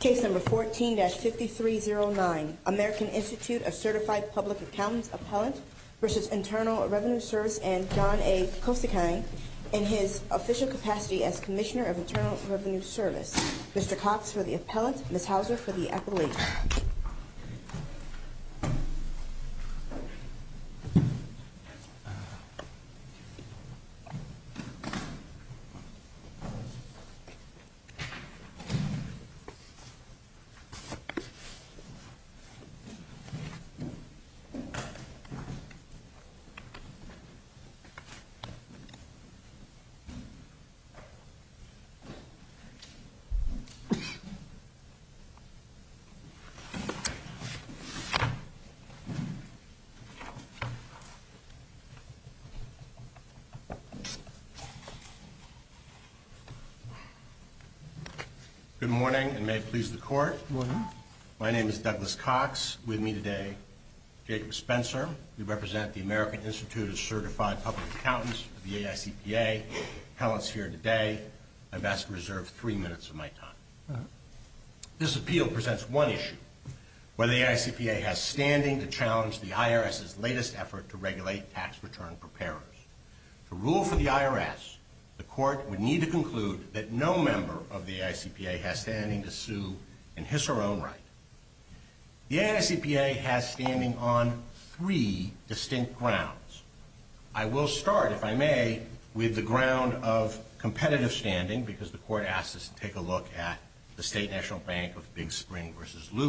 Case number 14-5309, American Institute of Certified Public Accountants Appellant v. Internal Revenue Service and John A. Kosakang in his official capacity as Commissioner of Internal Revenue Service. Mr. Cox for the appellant, Ms. Hauser for the appellate. Ms. Hauser for the appellate. Good morning, and may it please the Court. My name is Douglas Cox. With me today, Jacob Spencer. We represent the American Institute of Certified Public Accountants, the AICPA. The appellant's here today. I've asked to reserve three minutes of my time. This appeal presents one issue, whether the AICPA has standing to challenge the IRS's latest effort to regulate tax return preparers. To rule for the IRS, the Court would need to conclude that no member of the AICPA has standing to sue in his or her own right. The AICPA has standing on three distinct grounds. I will start, if I may, with the ground of competitive standing, because the Court asked us to take a look at the State National Bank of Big Spring v.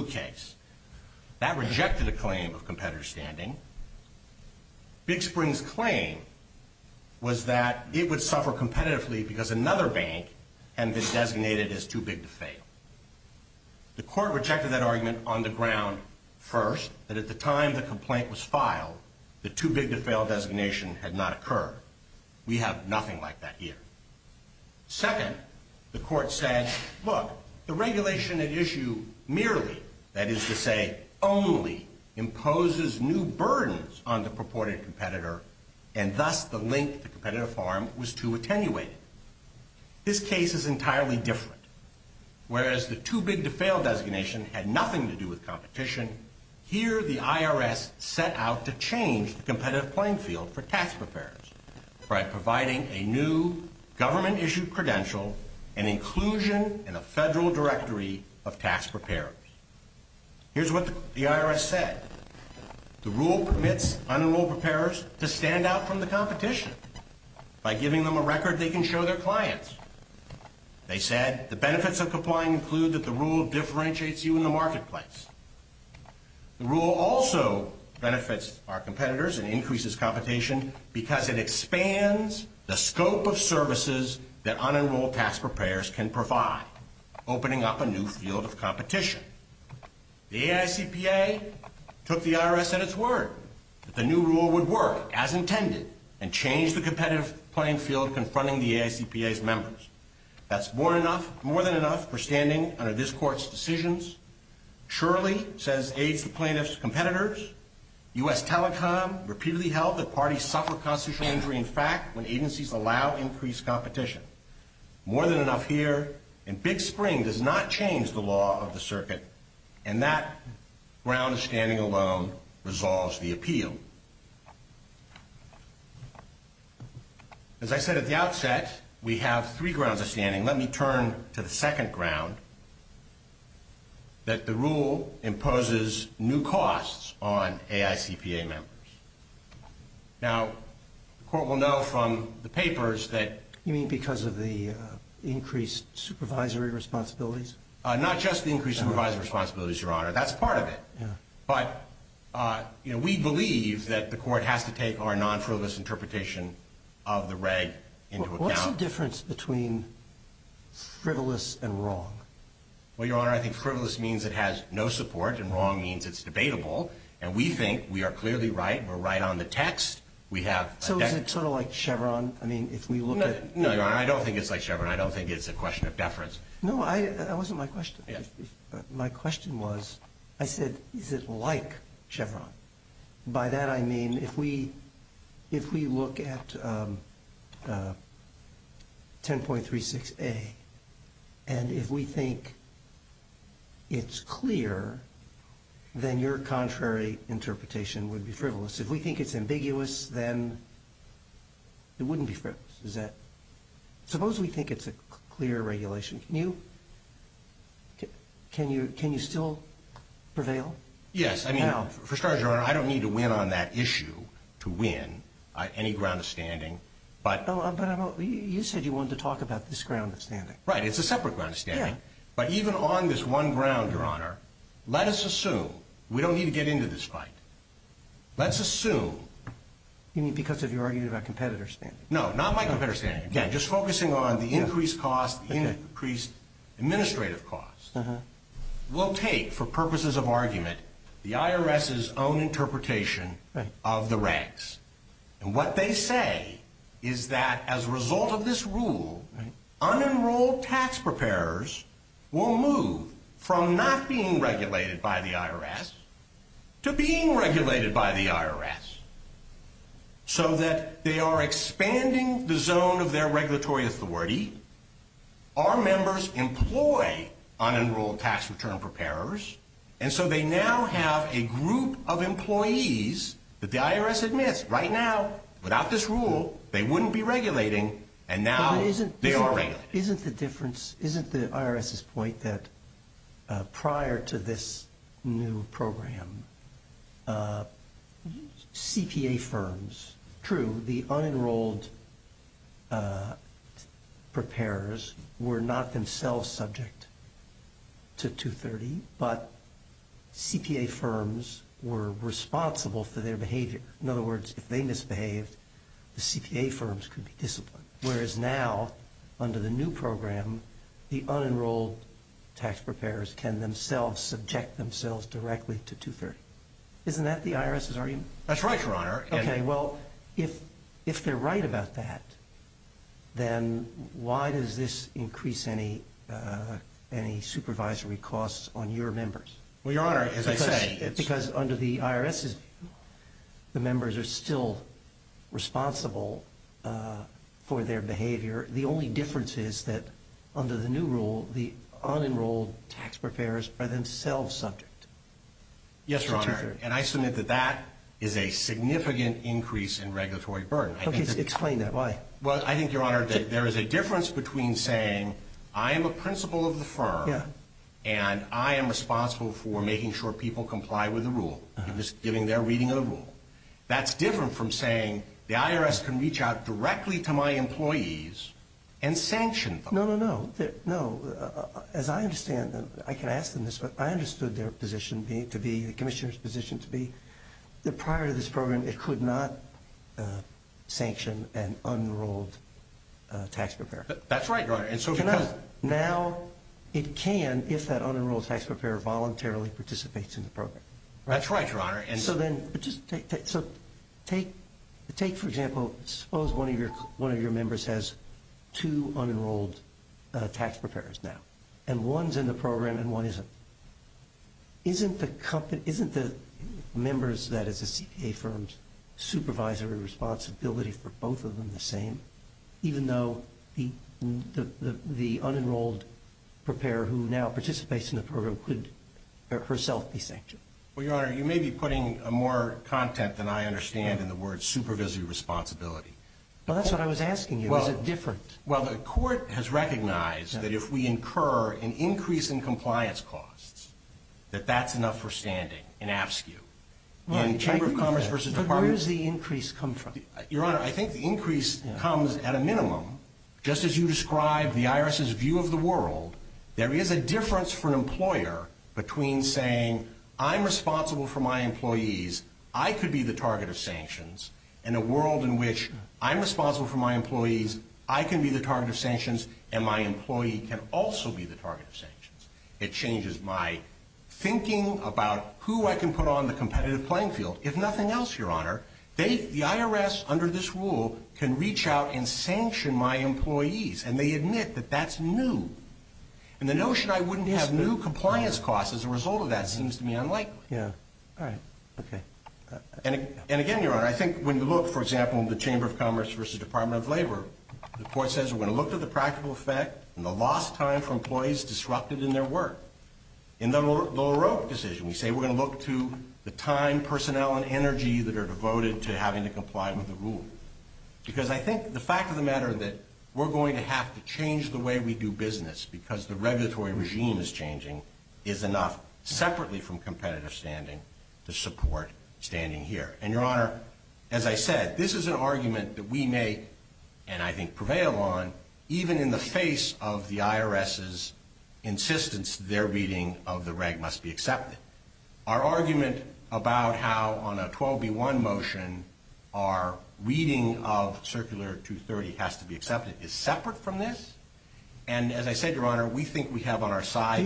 was that it would suffer competitively because another bank had been designated as too big to fail. The Court rejected that argument on the ground, first, that at the time the complaint was filed, the too big to fail designation had not occurred. We have nothing like that here. Second, the Court said, look, the regulation at issue merely, that is to say, only, imposes new burdens on the purported competitor, and thus the link to competitive farm was too attenuated. This case is entirely different. Whereas the too big to fail designation had nothing to do with competition, here the IRS set out to change the competitive playing field for tax preparers by providing a new government-issued credential and inclusion in a federal directory of tax preparers. Here's what the IRS said. The rule permits unenrolled preparers to stand out from the competition by giving them a record they can show their clients. They said the benefits of complying include that the rule differentiates you in the marketplace. The rule also benefits our competitors and increases competition because it expands the scope of services that unenrolled tax preparers can provide, opening up a new field of competition. The AICPA took the IRS at its word that the new rule would work as intended and change the competitive playing field confronting the AICPA's members. That's more than enough for standing under this Court's decisions. Surely, says aides to plaintiffs' competitors, U.S. Telecom repeatedly held that parties suffer constitutional injury in fact when agencies allow increased competition. More than enough here, and Big Spring does not change the law of the circuit, and that ground of standing alone resolves the appeal. As I said at the outset, we have three grounds of standing. Let me turn to the second ground, that the rule imposes new costs on AICPA members. Now, the Court will know from the papers that... You mean because of the increased supervisory responsibilities? Not just the increased supervisory responsibilities, Your Honor. That's part of it. But, you know, we believe that the Court has to take our non-frivolous interpretation of the reg into account. What's the difference between frivolous and wrong? Well, Your Honor, I think frivolous means it has no support, and wrong means it's debatable. And we think we are clearly right. We're right on the text. We have... So is it sort of like Chevron? I mean, if we look at... No, Your Honor, I don't think it's like Chevron. I don't think it's a question of deference. No, that wasn't my question. My question was, I said, is it like Chevron? By that I mean, if we look at 10.36a, and if we think it's clear, then your contrary interpretation would be frivolous. If we think it's ambiguous, then it wouldn't be frivolous. Suppose we think it's a clear regulation. Can you still prevail? Yes. I mean, for starters, Your Honor, I don't need to win on that issue to win any ground of standing. But you said you wanted to talk about this ground of standing. Right. It's a separate ground of standing. Yeah. But even on this one ground, Your Honor, let us assume we don't need to get into this fight. Let's assume... You mean because of your argument about competitor standing? No, not my competitor standing. Again, just focusing on the increased cost, the increased administrative cost. We'll take, for purposes of argument, the IRS's own interpretation of the regs. And what they say is that as a result of this rule, unenrolled tax preparers will move from not being regulated by the IRS to being regulated by the IRS. So that they are expanding the zone of their regulatory authority. Our members employ unenrolled tax return preparers. And so they now have a group of employees that the IRS admits right now, without this rule, they wouldn't be regulating. And now they are regulating. Isn't the difference, isn't the IRS's point that prior to this new program, CPA firms, true, the unenrolled preparers were not themselves subject to 230, but CPA firms were responsible for their behavior. In other words, if they misbehaved, the CPA firms could be disciplined. Whereas now, under the new program, the unenrolled tax preparers can themselves subject themselves directly to 230. Isn't that the IRS's argument? That's right, Your Honor. Okay, well, if they're right about that, then why does this increase any supervisory costs on your members? Well, Your Honor, as I say... Because under the IRS's rule, the members are still responsible for their behavior. The only difference is that under the new rule, the unenrolled tax preparers are themselves subject to 230. Yes, Your Honor, and I submit that that is a significant increase in regulatory burden. Okay, explain that. Why? Well, I think, Your Honor, that there is a difference between saying, I am a principal of the firm, and I am responsible for making sure people comply with the rule. I'm just giving their reading of the rule. That's different from saying, the IRS can reach out directly to my employees and sanction them. No, no, no. No, as I understand, I can ask them this, but I understood their position to be, the Commissioner's position to be, that prior to this program, it could not sanction an unenrolled tax preparer. That's right, Your Honor. Now, it can if that unenrolled tax preparer voluntarily participates in the program. That's right, Your Honor. So then, take, for example, suppose one of your members has two unenrolled tax preparers now, and one's in the program and one isn't. Isn't the company, isn't the members that is a CPA firm's supervisory responsibility for both of them the same, even though the unenrolled preparer who now participates in the program could herself be sanctioned? Well, Your Honor, you may be putting more content than I understand in the word supervisory responsibility. Well, that's what I was asking you. Is it different? Well, the court has recognized that if we incur an increase in compliance costs, that that's enough for standing in AFSCU. In the Chamber of Commerce versus Department. But where does the increase come from? Your Honor, I think the increase comes at a minimum. Just as you described the IRS's view of the world, there is a difference for an employer between saying, I'm responsible for my employees, I could be the target of sanctions, and a world in which I'm responsible for my employees, I can be the target of sanctions, and my employee can also be the target of sanctions. It changes my thinking about who I can put on the competitive playing field. If nothing else, Your Honor, the IRS, under this rule, can reach out and sanction my employees, and they admit that that's new. And the notion I wouldn't have new compliance costs as a result of that seems to me unlikely. Yeah. All right. Okay. And again, Your Honor, I think when you look, for example, in the Chamber of Commerce versus Department of Labor, the court says we're going to look to the practical effect and the lost time for employees disrupted in their work. In the Lower Oak decision, we say we're going to look to the time, personnel, and energy that are devoted to having to comply with the rule. Because I think the fact of the matter that we're going to have to change the way we do business because the regulatory regime is changing is enough separately from competitive standing to support standing here. And, Your Honor, as I said, this is an argument that we may, and I think prevail on, even in the face of the IRS's insistence their reading of the reg must be accepted. Our argument about how on a 12B1 motion our reading of Circular 230 has to be accepted is separate from this. And as I said, Your Honor, we think we have on our side.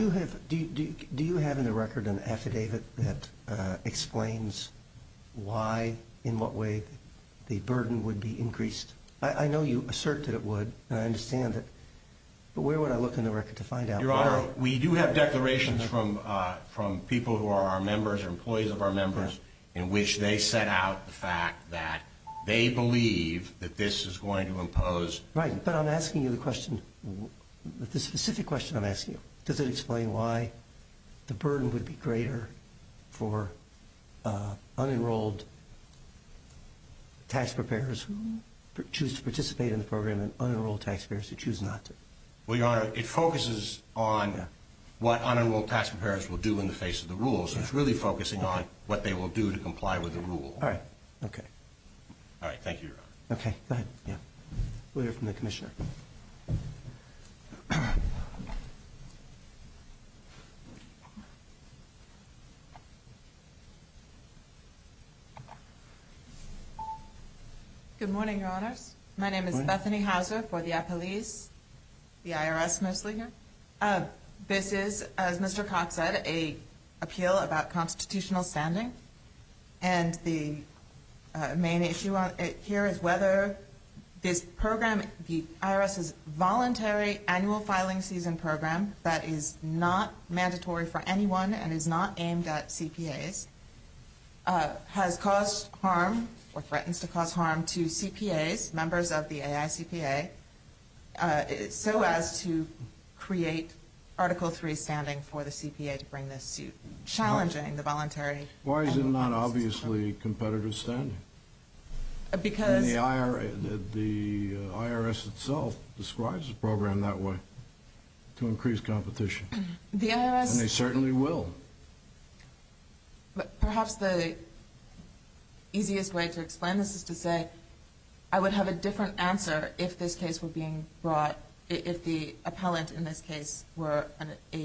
Do you have in the record an affidavit that explains why, in what way, the burden would be increased? I know you assert that it would, and I understand it, but where would I look in the record to find out why? Your Honor, we do have declarations from people who are our members or employees of our members in which they set out the fact that they believe that this is going to impose. Right, but I'm asking you the question, the specific question I'm asking you. Does it explain why the burden would be greater for unenrolled tax preparers who choose to participate in the program and unenrolled tax preparers who choose not to? Well, Your Honor, it focuses on what unenrolled tax preparers will do in the face of the rules. It's really focusing on what they will do to comply with the rule. All right. Okay. All right. Thank you, Your Honor. Okay. Go ahead. We'll hear from the Commissioner. Good morning, Your Honors. My name is Bethany Houser for the Appellees, the IRS mostly here. This is, as Mr. Cox said, an appeal about constitutional standing. And the main issue here is whether this program, the IRS's voluntary annual filing season program that is not mandatory for anyone and is not aimed at CPAs, has caused harm or threatens to cause harm to CPAs, members of the AICPA, so as to create Article III standing for the CPA to bring this suit, challenging the voluntary annual filing season program. Why is it not obviously competitive standing? Because... The IRS itself describes the program that way, to increase competition. The IRS... And they certainly will. Perhaps the easiest way to explain this is to say I would have a different answer if this case were being brought, if the appellant in this case were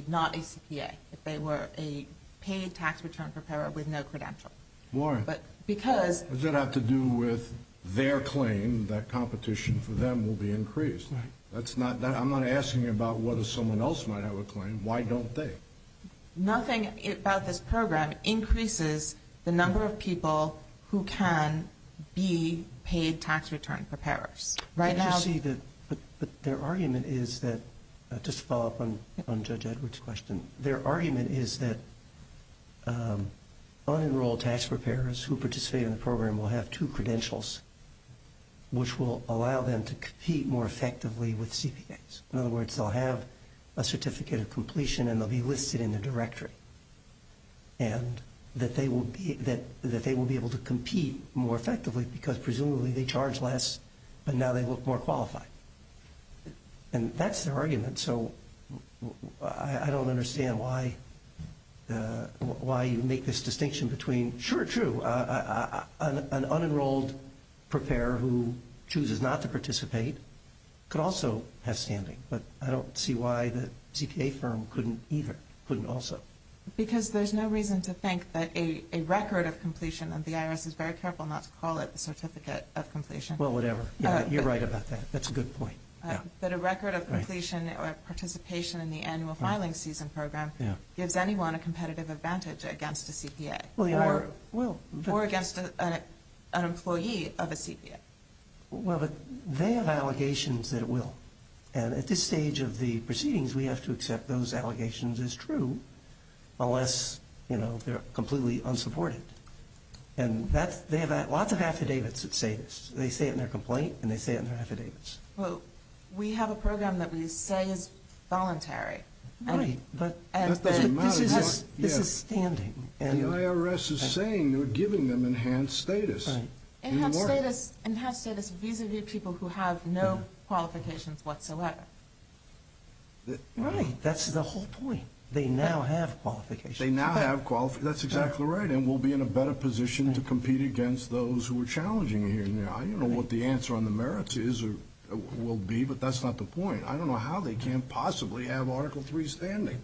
not a CPA, if they were a paid tax return preparer with no credential. Why? Because... Does that have to do with their claim that competition for them will be increased? Right. I'm not asking you about whether someone else might have a claim. Why don't they? Nothing about this program increases the number of people who can be paid tax return preparers. Right now... But you see that their argument is that, just to follow up on Judge Edwards' question, their argument is that unenrolled tax preparers who participate in the program will have two credentials, which will allow them to compete more effectively with CPAs. In other words, they'll have a certificate of completion and they'll be listed in the directory. And that they will be able to compete more effectively because, presumably, they charge less, but now they look more qualified. And that's their argument. So I don't understand why you make this distinction between... But I don't see why the CPA firm couldn't either, couldn't also. Because there's no reason to think that a record of completion, and the IRS is very careful not to call it the certificate of completion. Well, whatever. You're right about that. That's a good point. That a record of completion or participation in the annual filing season program gives anyone a competitive advantage against a CPA. Well, the IRS will. Or against an employee of a CPA. Well, but they have allegations that it will. And at this stage of the proceedings, we have to accept those allegations as true, unless, you know, they're completely unsupported. And they have lots of affidavits that say this. They say it in their complaint and they say it in their affidavits. Well, we have a program that we say is voluntary. Right, but this is standing. The IRS is saying they're giving them enhanced status. Enhanced status vis-a-vis people who have no qualifications whatsoever. Right. That's the whole point. They now have qualifications. They now have qualifications. That's exactly right. And we'll be in a better position to compete against those who are challenging you. I don't know what the answer on the merits will be, but that's not the point. I don't know how they can't possibly have Article III standing.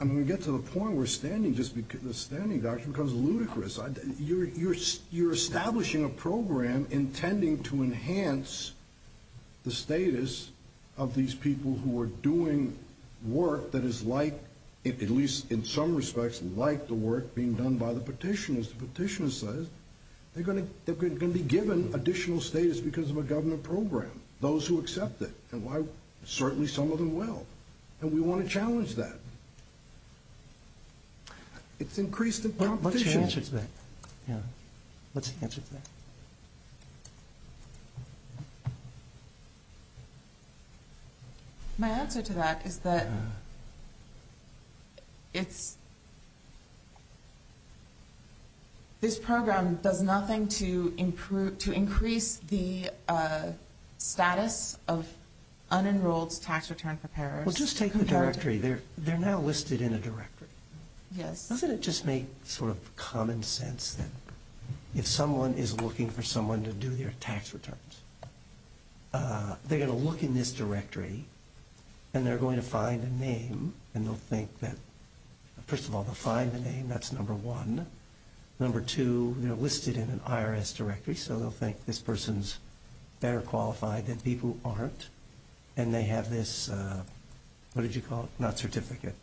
And when we get to the point where the standing doctrine becomes ludicrous, you're establishing a program intending to enhance the status of these people who are doing work that is like, at least in some respects, like the work being done by the petitioners. The petitioner says they're going to be given additional status because of a government program. Those who accept it. And certainly some of them will. And we want to challenge that. It's increased in competition. What's your answer to that? My answer to that is that it's this program does nothing to increase the status of unenrolled tax return preparers. Well, just take the directory. They're now listed in a directory. Yes. Doesn't it just make sort of common sense that if someone is looking for someone to do their tax returns, they're going to look in this directory, and they're going to find a name, and they'll think that, first of all, they'll find the name. That's number one. Number two, they're listed in an IRS directory, so they'll think this person's better qualified than people who aren't. And they have this, what did you call it? Not certificate.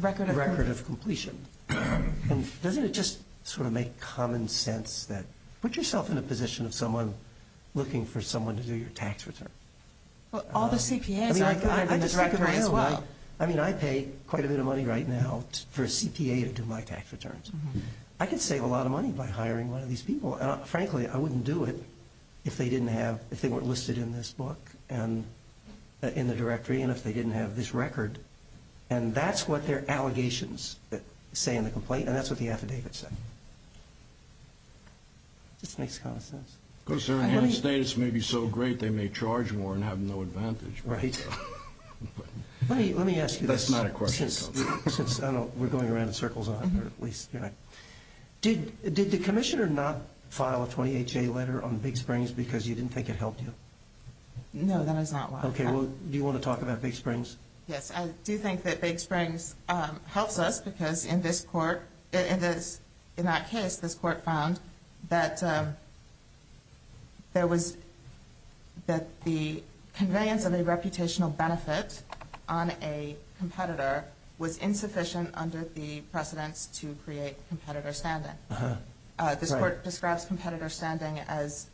Record of completion. And doesn't it just sort of make common sense that put yourself in a position of someone looking for someone to do your tax return? Well, all the CPAs are in this directory as well. I mean, I pay quite a bit of money right now for a CPA to do my tax returns. I could save a lot of money by hiring one of these people. And, frankly, I wouldn't do it if they weren't listed in this book and in the directory and if they didn't have this record. And that's what their allegations say in the complaint, and that's what the affidavit said. It just makes common sense. Because they're in a state that's maybe so great they may charge more and have no advantage. Right. Let me ask you this. That's not a question. Since we're going around in circles on it, or at least you're not. Did the commissioner not file a 28-J letter on Big Springs because you didn't think it helped you? No, that is not why. Okay. Well, do you want to talk about Big Springs? Yes. I do think that Big Springs helps us because in this court, in that case, this court found that the conveyance of a reputational benefit on a competitor was insufficient under the precedence to create competitor standing. This court describes competitor standing as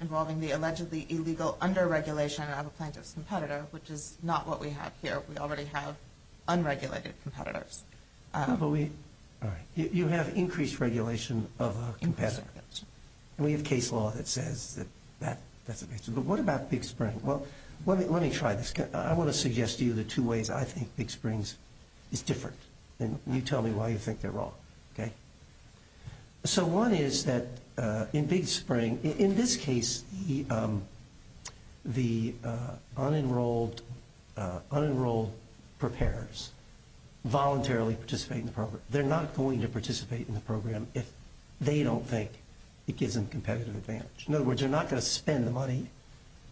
involving the allegedly illegal under-regulation of a plaintiff's competitor, which is not what we have here. We already have unregulated competitors. All right. You have increased regulation of a competitor. And we have case law that says that that's the case. But what about Big Springs? Well, let me try this. I want to suggest to you the two ways I think Big Springs is different. And you tell me why you think they're wrong. Okay? So one is that in Big Springs, in this case, the unenrolled preparers voluntarily participate in the program. They're not going to participate in the program if they don't think it gives them competitive advantage. In other words, they're not going to spend the money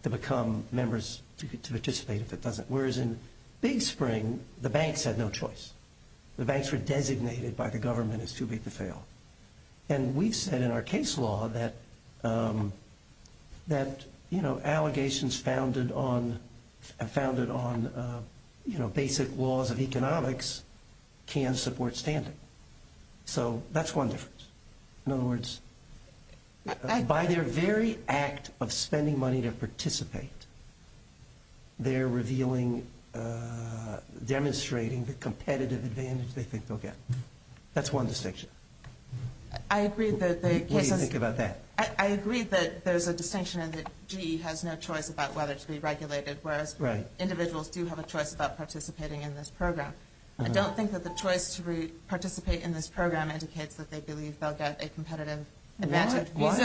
to become members to participate if it doesn't. Whereas in Big Springs, the banks had no choice. The banks were designated by the government as too big to fail. And we've said in our case law that, you know, allegations founded on basic laws of economics can support standing. So that's one difference. In other words, by their very act of spending money to participate, they're revealing, demonstrating the competitive advantage they think they'll get. That's one distinction. What do you think about that? I agree that there's a distinction in that GE has no choice about whether to be regulated, whereas individuals do have a choice about participating in this program. I don't think that the choice to participate in this program indicates that they believe they'll get a competitive advantage. Why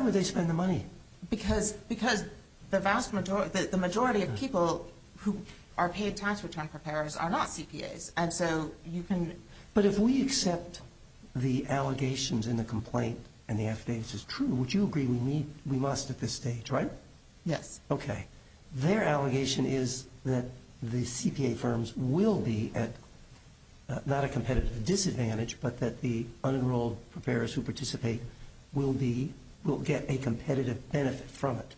would they spend the money? Because the vast majority, the majority of people who are paid tax return preparers are not CPAs. And so you can... But if we accept the allegations in the complaint and the affidavits as true, would you agree we must at this stage, right? Yes. Okay. Their allegation is that the CPA firms will be at not a competitive disadvantage, but that the unenrolled preparers who participate will be, will get a competitive benefit from it.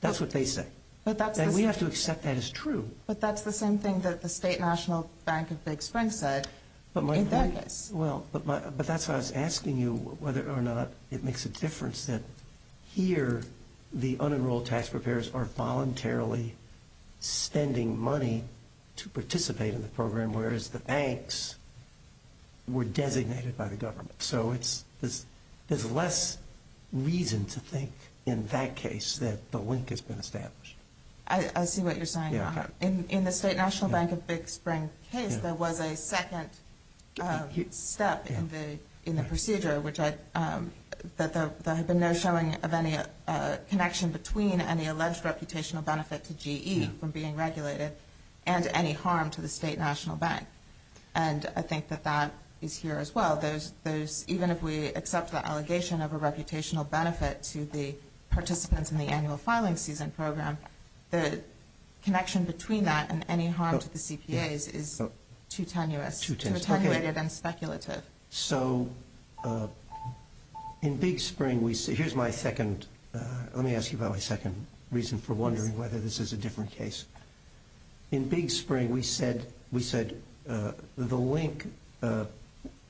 That's what they say. And we have to accept that as true. But that's the same thing that the State National Bank of Big Spring said in their case. Well, but that's why I was asking you whether or not it makes a difference that here the unenrolled tax preparers are voluntarily spending money to participate in the program, whereas the banks were designated by the government. So there's less reason to think in that case that the link has been established. I see what you're saying. In the State National Bank of Big Spring case, there was a second step in the procedure that there had been no showing of any connection between any alleged reputational benefit to GE from being regulated and any harm to the State National Bank. And I think that that is here as well. Even if we accept the allegation of a reputational benefit to the participants in the annual filing season program, the connection between that and any harm to the CPAs is too tenuous, too attenuated and speculative. So in Big Spring, here's my second. Let me ask you about my second reason for wondering whether this is a different case. In Big Spring, we said the link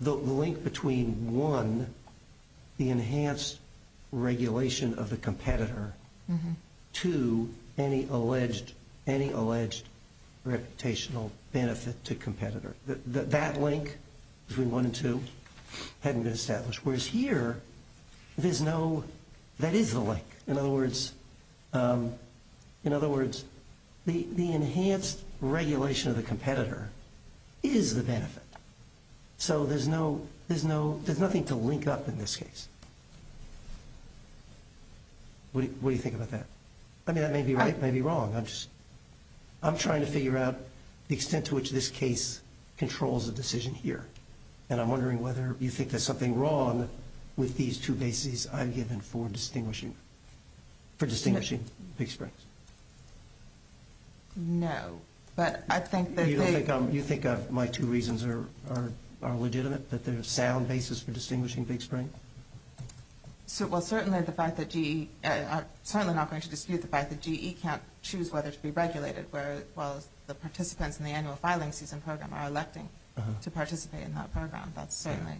between, one, the enhanced regulation of the competitor, to any alleged reputational benefit to competitor. That link between one and two hadn't been established, whereas here, that is the link. In other words, the enhanced regulation of the competitor is the benefit. So there's nothing to link up in this case. What do you think about that? I mean, that may be right, it may be wrong. I'm trying to figure out the extent to which this case controls a decision here. And I'm wondering whether you think there's something wrong with these two bases I've given for distinguishing Big Springs. No, but I think that they... Well, certainly the fact that GE... I'm certainly not going to dispute the fact that GE can't choose whether to be regulated, whereas the participants in the annual filing season program are electing to participate in that program. That's certainly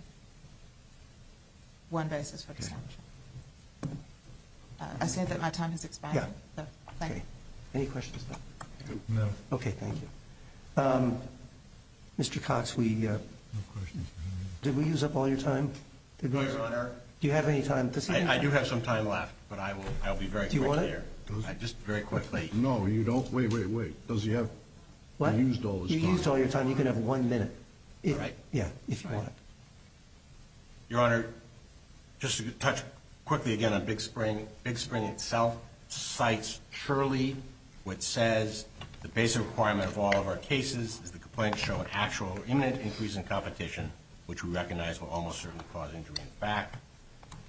one basis for distinguishing. I see that my time has expired. Yeah. Thank you. Any questions? No. Okay, thank you. Mr. Cox, we... No questions. Did we use up all your time? No, Your Honor. Do you have any time? I do have some time left, but I will be very quick here. Do you want it? Just very quickly. No, you don't. Wait, wait, wait. Does he have... What? He used all his time. You used all your time. You can have one minute. All right. Yeah, if you want it. Your Honor, just to touch quickly again on Big Spring. Big Spring itself cites surely what says the basic requirement of all of our cases is the complaint show an actual imminent increase in competition, which we recognize will almost certainly cause injury in fact.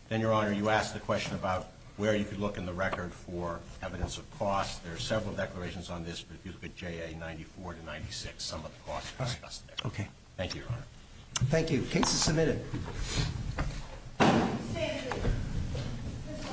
Then, Your Honor, you asked the question about where you could look in the record for evidence of cost. There are several declarations on this, but if you look at JA94 to 96, some of the costs are discussed there. Okay. Thank you, Your Honor. Thank you. Case is submitted. Stand at ease.